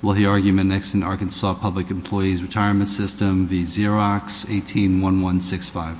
We'll hear argument next in Arkansas Public Employees Retirement System, the Xerox 18-1165.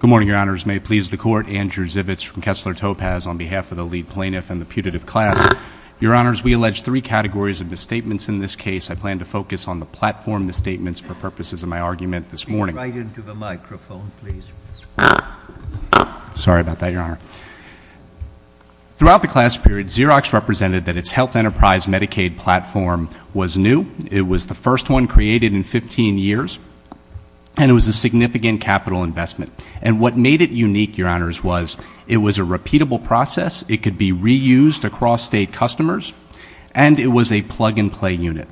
Good morning, your honors. May it please the court, Andrew Zivitz from Kessler Topaz on behalf of the lead plaintiff and the putative class. Your honors, we allege three categories of misstatements in this case. I plan to focus on the platform misstatements for purposes of my argument this morning. Right into the microphone, please. Sorry about that, your honor. Throughout the class period, Xerox represented that its health enterprise Medicaid platform was new. It was the first one created in 15 years, and it was a significant capital investment. And what made it unique, your honors, was it was a repeatable process, it could be reused across state customers, and it was a plug-and-play unit.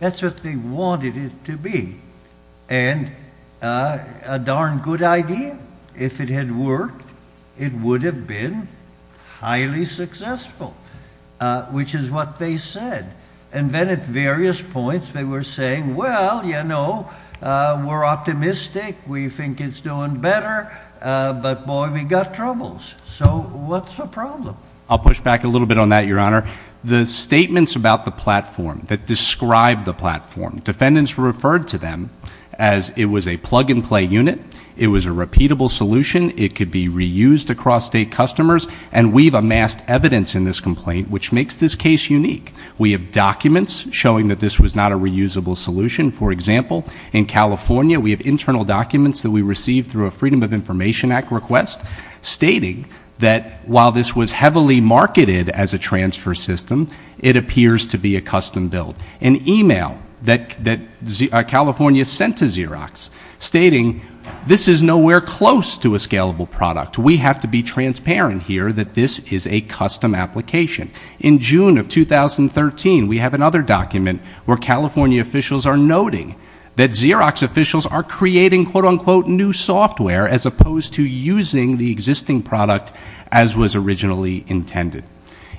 That's what they wanted it to be, and a darn good idea. If it had worked, it would have been highly successful, which is what they said. And then at various points, they were saying, well, you know, we're optimistic. We think it's doing better, but boy, we got troubles. So what's the problem? I'll push back a little bit on that, your honor. The statements about the platform that describe the platform, defendants referred to them as it was a plug-and-play unit, it was a repeatable solution, it could be reused across state customers, and we've amassed evidence in this complaint which makes this case unique. We have documents showing that this was not a reusable solution. For example, in California, we have internal documents that we received through a Freedom of Information Act request stating that while this was heavily marketed as a transfer system, it appears to be a custom build. An email that California sent to Xerox stating this is nowhere close to a scalable product. We have to be transparent here that this is a custom application. In June of 2013, we have another document where California officials are noting that Xerox officials are creating quote-unquote new software as opposed to using the existing product as was originally intended.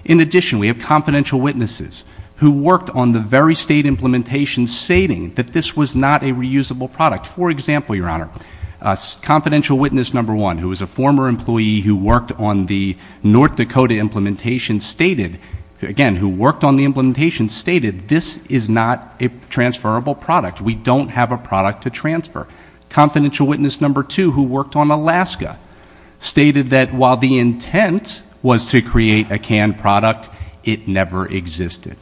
In addition, we have confidential witnesses who worked on the very state implementation stating that this was not a reusable product. For example, your honor, confidential witness number one, who was a former employee who worked on the implementation, stated this is not a transferable product. We don't have a product to transfer. Confidential witness number two, who worked on Alaska, stated that while the intent was to create a canned product, it never existed.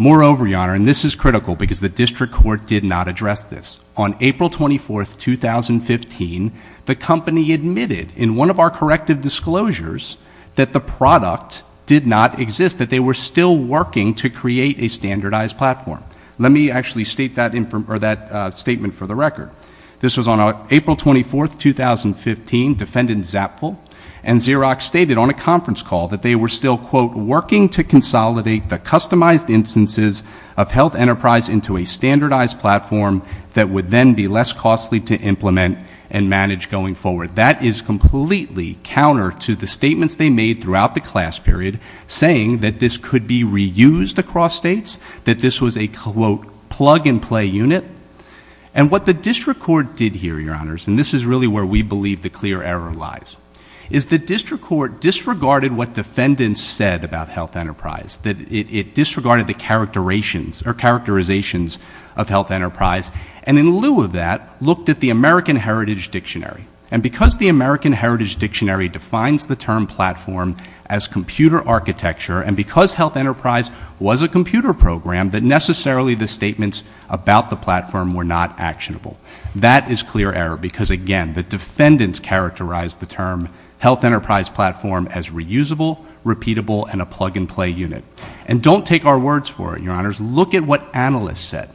Moreover, your honor, and this is critical because the district court did not address this. On April 24, 2015, the company admitted in one of our corrective disclosures that the they were still working to create a standardized platform. Let me actually state that statement for the record. This was on April 24, 2015, defendant Zapfel and Xerox stated on a conference call that they were still quote working to consolidate the customized instances of health enterprise into a standardized platform that would then be less costly to implement and manage going forward. That is completely counter to the statements they made throughout the class period saying that this could be reused across states, that this was a quote plug and play unit. And what the district court did here, your honors, and this is really where we believe the clear error lies, is the district court disregarded what defendants said about health enterprise. That it disregarded the characterizations of health enterprise. And in lieu of that, looked at the American Heritage Dictionary. And because the American Heritage Dictionary defines the term platform as computer architecture and because health enterprise was a computer program that necessarily the statements about the platform were not actionable. That is clear error because again, the defendants characterized the term health enterprise platform as reusable, repeatable, and a plug and play unit. And don't take our words for it, your honors. Look at what analysts said.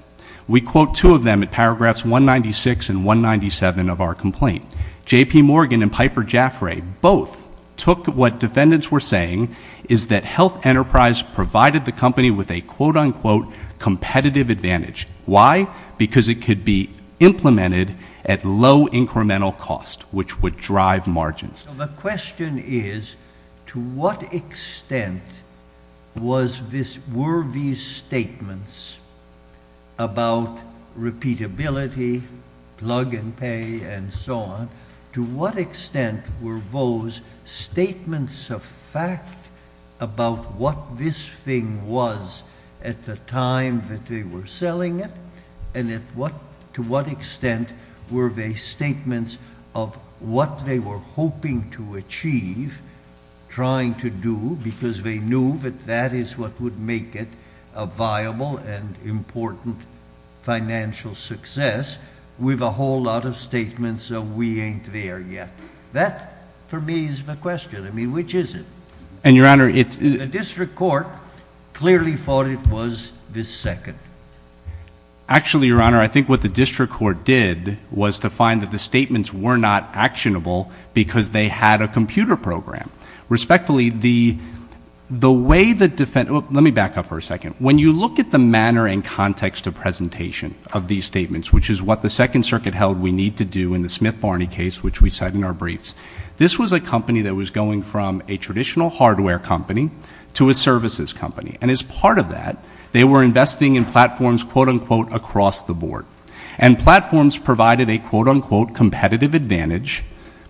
We quote two of them at paragraphs 196 and 197 of our complaint. J.P. Morgan and Piper Jaffray both took what defendants were saying is that health enterprise provided the company with a quote unquote competitive advantage. Why? Because it could be implemented at low incremental cost, which would drive margins. The question is, to what extent were these statements about repeatability, plug and pay, and so on, to what extent were those statements of fact about what this thing was at the time that they were selling it? And to what extent were they statements of what they were hoping to achieve, trying to do because they knew that that is what would make it a viable and important financial success with a whole lot of statements of we ain't there yet. That for me is the question. I mean, which is it? And your honor, it's... The district court clearly thought it was the second. Actually, your honor, I think what the district court did was to find that the statements were not actionable because they had a computer program. Respectfully, the way the defendants... Let me back up for a second. When you look at the manner and context of presentation of these statements, which is what the second circuit held we need to do in the Smith-Barney case, which we said in our briefs, this was a company that was going from a traditional hardware company to a services company. And as part of that, they were investing in platforms quote unquote across the board. And platforms provided a quote unquote competitive advantage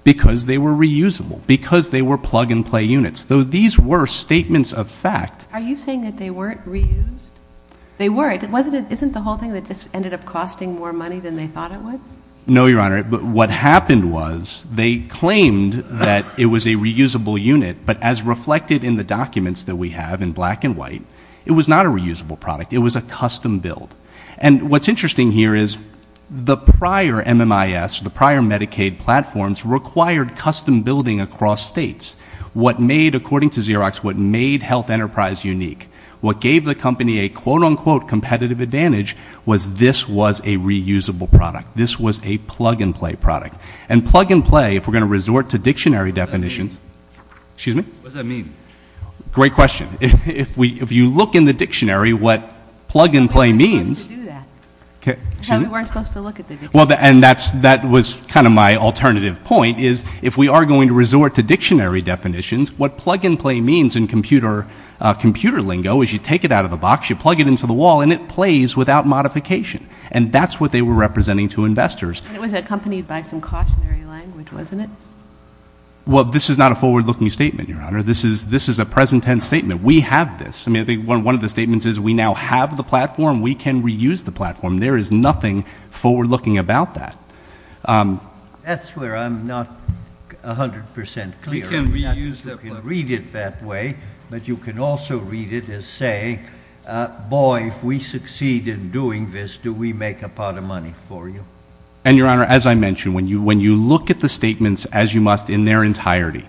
because they were reusable, because they were plug and play units. Though these were statements of fact... Are you saying that they weren't reused? They weren't. Isn't the whole thing that just ended up costing more money than they thought it would? No, your honor. But what happened was they claimed that it was a reusable unit, but as reflected in the documents that we have in black and white, it was not a reusable product. It was a custom build. And what's interesting here is the prior MMIS, the prior Medicaid platforms required custom building across states. What made, according to Xerox, what made Health Enterprise unique, what gave the company a quote unquote competitive advantage, was this was a reusable product. This was a plug and play product. And plug and play, if we're going to resort to dictionary definitions... What does that mean? Excuse me? What does that mean? If you look in the dictionary what plug and play means... How are we supposed to do that? Excuse me? How are we supposed to look at the dictionary? Well, and that was kind of my alternative point is if we are going to resort to dictionary definitions, what plug and play means in computer lingo is you take it out of the box, you plug it into the wall, and it plays without modification. And that's what they were representing to investors. And it was accompanied by some cautionary language, wasn't it? Well, this is not a forward-looking statement, your honor. This is a present-tense statement. We have this. I mean, I think one of the statements is we now have the platform. We can reuse the platform. That's where I'm not 100% clear on it. We can reuse the platform. You can read it that way, but you can also read it as saying, boy, if we succeed in doing this, do we make a pot of money for you? And your honor, as I mentioned, when you look at the statements as you must in their entirety,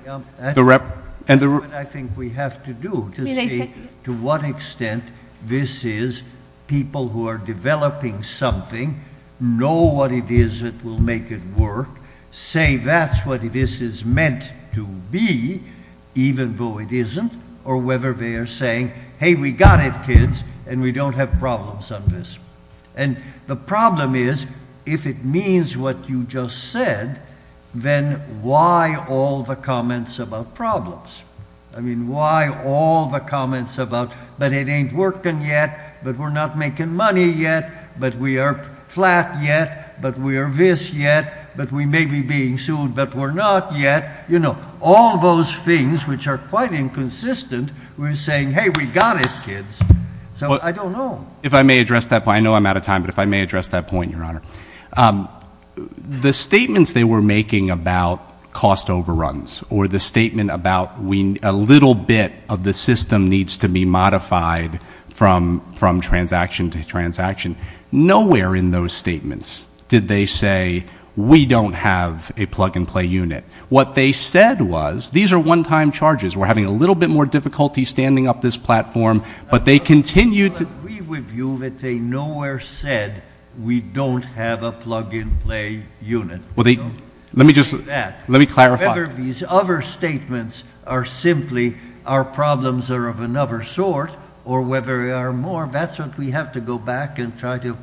the rep... That's what I think we have to do to see to what extent this is people who are developing something, know what it is that will make it work, say that's what this is meant to be, even though it isn't, or whether they are saying, hey, we got it, kids, and we don't have problems on this. And the problem is, if it means what you just said, then why all the comments about problems? I mean, why all the comments about, but it ain't working yet, but we're not making money yet, but we are flat yet, but we are this yet, but we may be being sued, but we're not yet. You know, all those things which are quite inconsistent, we're saying, hey, we got it, kids. So I don't know. If I may address that point. I know I'm out of time, but if I may address that point, your honor. The statements they were making about cost overruns or the statement about a little bit of the system needs to be modified from transaction to transaction, nowhere in those statements did they say, we don't have a plug-and-play unit. What they said was, these are one-time charges. We're having a little bit more difficulty standing up this platform, but they continued to I agree with you that they nowhere said, we don't have a plug-and-play unit. Let me clarify. Whether these other statements are simply, our problems are of another sort, or whether there are more, that's what we have to go back and try to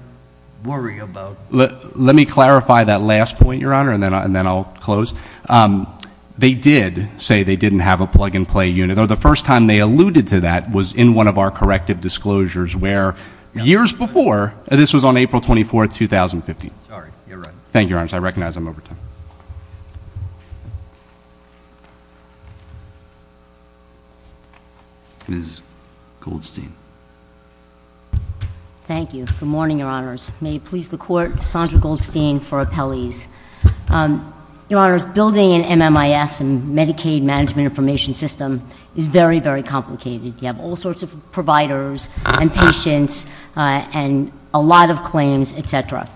worry about. Let me clarify that last point, your honor, and then I'll close. They did say they didn't have a plug-and-play unit, though the first time they alluded to that was in one of our corrective disclosures where, years before, this was on April 24th, 2015. Sorry, you're right. Thank you, your honors. I recognize I'm over time. Ms. Goldstein. Thank you. Good morning, your honors. May it please the Court, Sandra Goldstein for Appellees. Your honors, building an MMIS, Medicaid Management Information System, is very, very complicated. You have all sorts of providers and patients and a lot of claims, etc.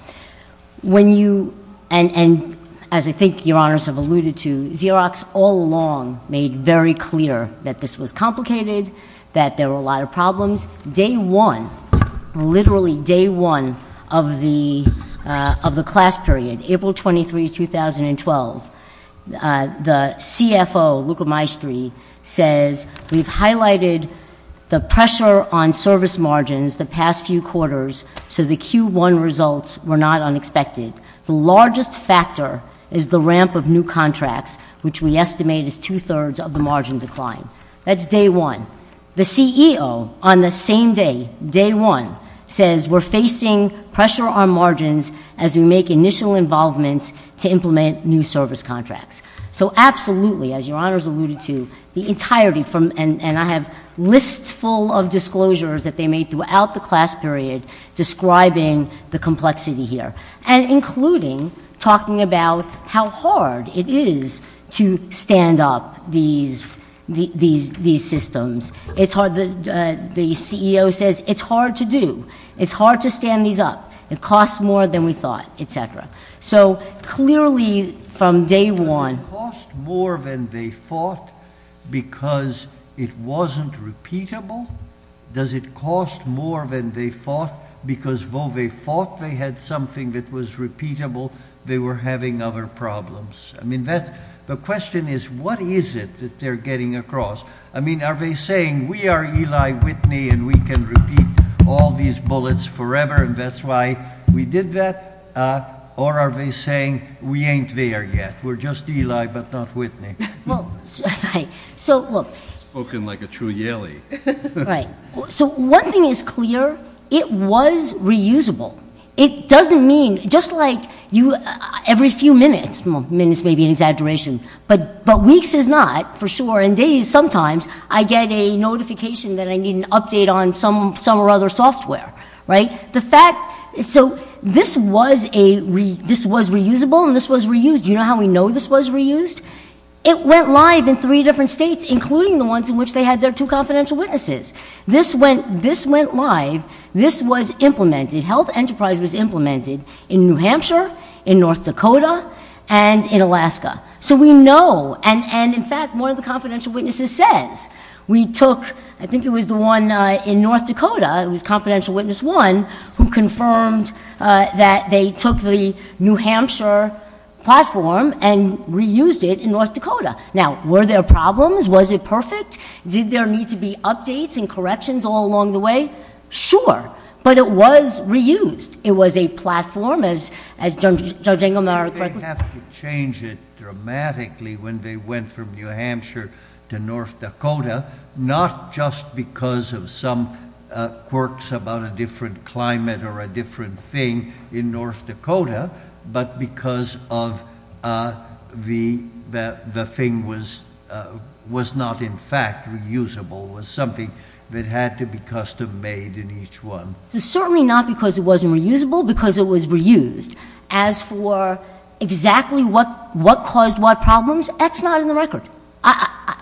When you, and as I think your honors have alluded to, Xerox all along made very clear that this was complicated, that there were a lot of problems. Day one, literally day one of the class period, April 23rd, 2012, the CFO, Luca Maestri, says we've highlighted the pressure on service margins the past few quarters so the Q1 results were not unexpected. The largest factor is the ramp of new contracts, which we estimate is two-thirds of the margin decline. That's day one. The CEO, on the same day, day one, says we're facing pressure on margins as we make initial involvements to implement new service contracts. So absolutely, as your honors alluded to, the entirety from, and I have lists full of including talking about how hard it is to stand up these systems. It's hard, the CEO says it's hard to do. It's hard to stand these up. It costs more than we thought, etc. So clearly, from day one- Does it cost more than they thought because it wasn't repeatable? Does it cost more than they thought because, though they thought they had something that was repeatable, they were having other problems? The question is, what is it that they're getting across? Are they saying, we are Eli Whitney and we can repeat all these bullets forever and that's why we did that? Or are they saying, we ain't there yet? We're just Eli but not Whitney. Well, so look- Spoken like a true Yalie. Right. So one thing is clear, it was reusable. It doesn't mean, just like every few minutes, minutes may be an exaggeration, but weeks is not for sure, and days sometimes I get a notification that I need an update on some or other software, right? The fact, so this was reusable and this was reused, you know how we know this was reused? It went live in three different states, including the ones in which they had their two confidential witnesses. This went live, this was implemented, Health Enterprise was implemented in New Hampshire, in North Dakota, and in Alaska. So we know, and in fact, one of the confidential witnesses says, we took, I think it was the one in North Dakota, it was Confidential Witness One, who confirmed that they took the New Hampshire version and implemented it in North Dakota. Now, were there problems? Was it perfect? Did there need to be updates and corrections all along the way? Sure. But it was reused. It was a platform, as Judge Engelmeyer correctly- They have to change it dramatically when they went from New Hampshire to North Dakota, not just because of some quirks about a different climate or a different thing in North Dakota, but because of the thing was not in fact reusable, was something that had to be custom-made in each one. So certainly not because it wasn't reusable, because it was reused. As for exactly what caused what problems, that's not in the record.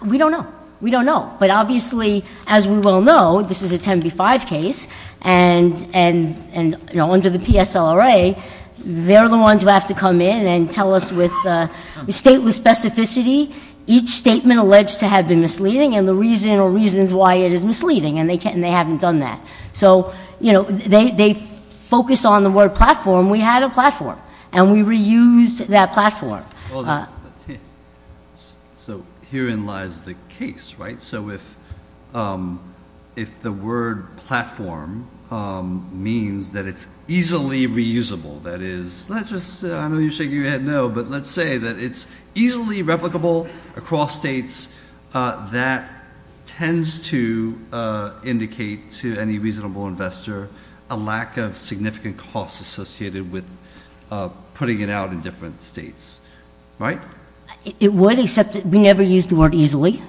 We don't know. We don't know. But obviously, as we well know, this is a 10b-5 case, and under the PSLRA, they're the ones who have to come in and tell us with stateless specificity, each statement alleged to have been misleading and the reason or reasons why it is misleading, and they haven't done that. So they focus on the word platform. We had a platform, and we reused that platform. So herein lies the case, right? So if the word platform means that it's easily reusable, that is, let's just, I know you're shaking your head no, but let's say that it's easily replicable across states, that tends to indicate to any reasonable investor a lack of significant costs associated with putting it out in different states, right? It would, except we never used the word easily.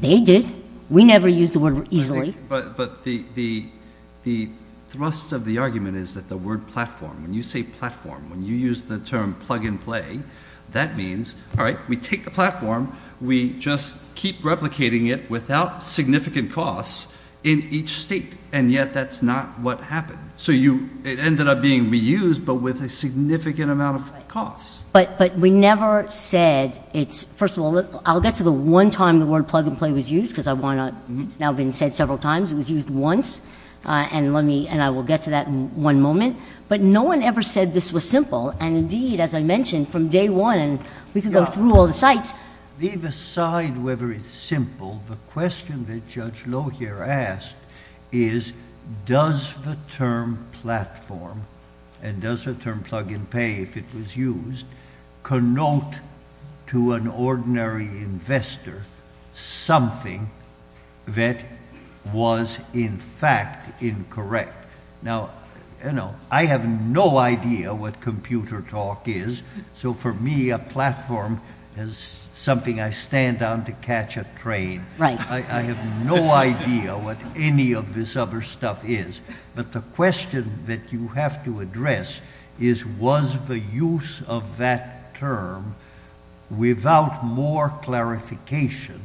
They did. We never used the word easily. But the thrust of the argument is that the word platform, when you say platform, when you use the term plug and play, that means, all right, we take the platform, we just keep replicating it without significant costs in each state, and yet that's not what happened. So it ended up being reused, but with a significant amount of costs. But we never said it's, first of all, I'll get to the one time the word plug and play was used, because I want to, it's now been said several times, it was used once, and I will get to that in one moment. But no one ever said this was simple, and indeed, as I mentioned, from day one, we could go through all the sites. Leave aside whether it's simple, the question that Judge Lohier asked is, does the term platform, and does the term plug and pay, if it was used, connote to an ordinary investor something that was, in fact, incorrect? Now, I have no idea what computer talk is, so for me, a platform is something I stand on to catch a train. I have no idea what any of this other stuff is. But the question that you have to address is, was the use of that term, without more clarification,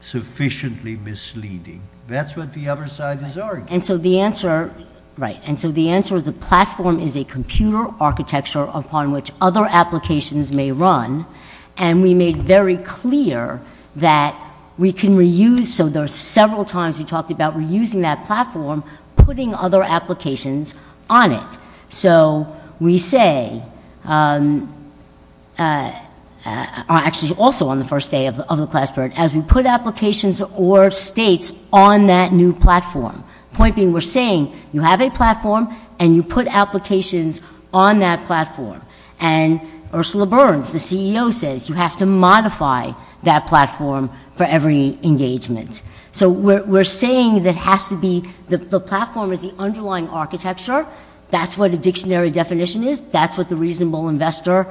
sufficiently misleading? That's what the other side is arguing. And so the answer, right, and so the answer is the platform is a computer architecture upon which other applications may run, and we made very clear that we can reuse, so there is a platform putting other applications on it. So we say, actually also on the first day of the class board, as we put applications or states on that new platform, point being, we're saying, you have a platform and you put applications on that platform. And Ursula Burns, the CEO, says you have to modify that platform for every engagement. So we're saying that has to be, the platform is the underlying architecture, that's what a dictionary definition is, that's what the reasonable investor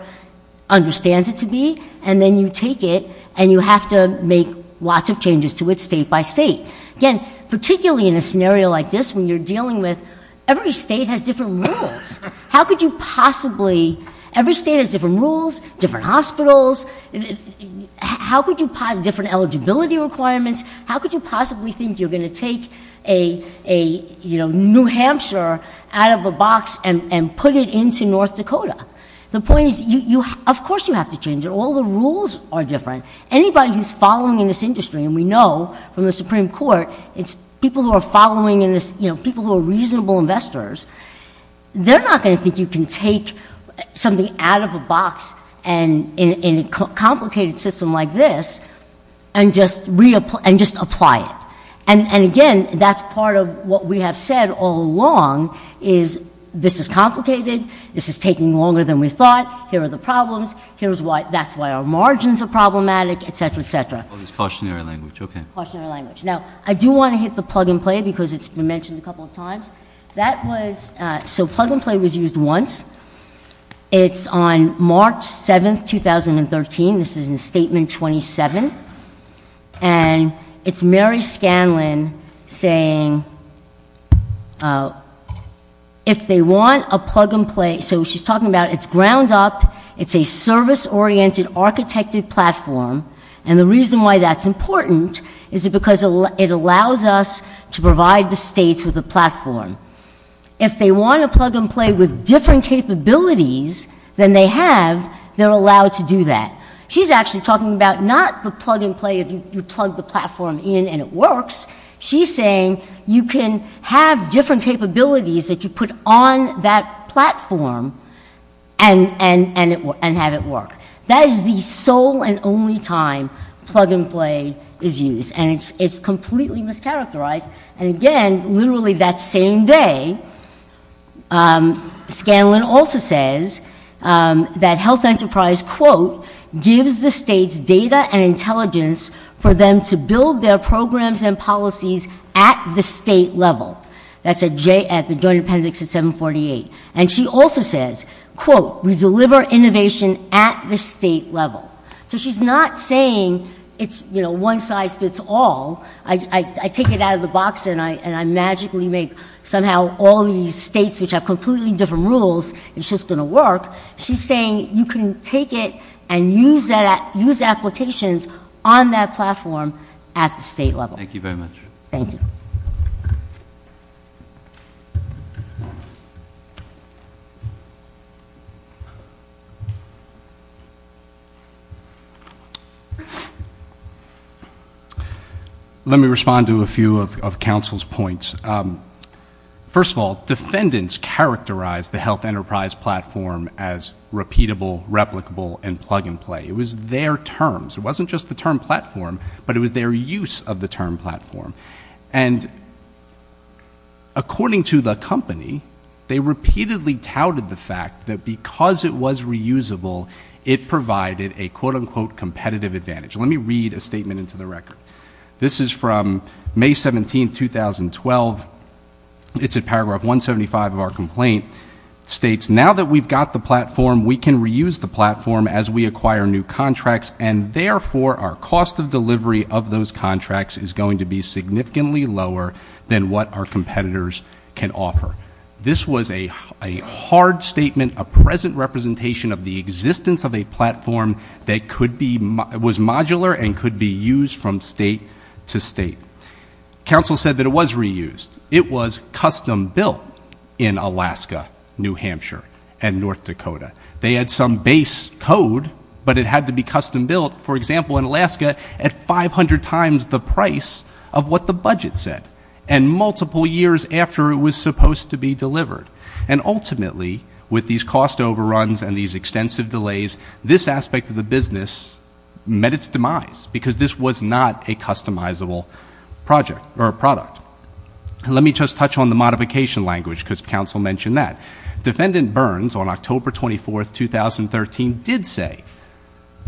understands it to be, and then you take it and you have to make lots of changes to it state by state. Again, particularly in a scenario like this, when you're dealing with, every state has different rules. How could you possibly, every state has different rules, different hospitals, how could you different eligibility requirements, how could you possibly think you're going to take a New Hampshire out of a box and put it into North Dakota? The point is, of course you have to change it, all the rules are different. Anybody who's following in this industry, and we know from the Supreme Court, it's people who are following in this, people who are reasonable investors, they're not going to think you can take something out of a box, and in a complicated system like this, and just reapply, and just apply it. And again, that's part of what we have said all along, is this is complicated, this is taking longer than we thought, here are the problems, here's why, that's why our margins are problematic, et cetera, et cetera. Oh, this cautionary language, okay. Cautionary language. Now, I do want to hit the plug and play because it's been mentioned a couple of times. That was, so plug and play was used once, it's on March 7th, 2013, this is in Statement 27, and it's Mary Scanlon saying, if they want a plug and play, so she's talking about it's ground up, it's a service-oriented, architected platform, and the reason why that's important is because it allows us to provide the states with a platform. If they want a plug and play with different capabilities than they have, they're allowed to do that. She's actually talking about not the plug and play, if you plug the platform in and it works, she's saying you can have different capabilities that you put on that platform and have it work. That is the sole and only time plug and play is used, and it's completely mischaracterized, and again, literally that same day, Scanlon also says that health enterprise, quote, gives the states data and intelligence for them to build their programs and policies at the state level. That's a J at the Joint Appendix of 748. She also says, quote, we deliver innovation at the state level. She's not saying it's one size fits all, I take it out of the box and I magically make somehow all these states which have completely different rules, it's just going to work. She's saying you can take it and use applications on that platform at the state level. Thank you very much. Let me respond to a few of counsel's points. First of all, defendants characterize the health enterprise platform as repeatable, replicable, and plug and play. It was their terms. It wasn't just the term platform, but it was their use of the term platform, and according to the company, they repeatedly touted the fact that because it was reusable, it provided a, quote, unquote, competitive advantage. Let me read a statement into the record. This is from May 17, 2012. It's at paragraph 175 of our complaint. It states, now that we've got the platform, we can reuse the platform as we acquire new contracts and therefore our cost of delivery of those contracts is going to be significantly lower than what our competitors can offer. This was a hard statement, a present representation of the existence of a platform that could be, was modular and could be used from state to state. Counsel said that it was reused. It was custom built in Alaska, New Hampshire, and North Dakota. They had some base code, but it had to be custom built, for example, in Alaska at 500 times the price of what the budget said, and multiple years after it was supposed to be delivered. And ultimately, with these cost overruns and these extensive delays, this aspect of the business met its demise, because this was not a customizable project or product. Let me just touch on the modification language, because counsel mentioned that. Defendant Burns, on October 24, 2013, did say,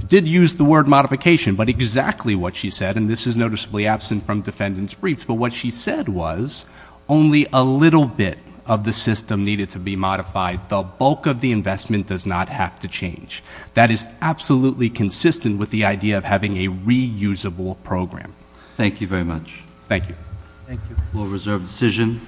did use the word modification, but exactly what she said, and this is noticeably absent from defendant's briefs, but what she said was only a little bit of the system needed to be modified, the bulk of the investment does not have to change. That is absolutely consistent with the idea of having a reusable program. Thank you very much. Thank you. We'll reserve the decision.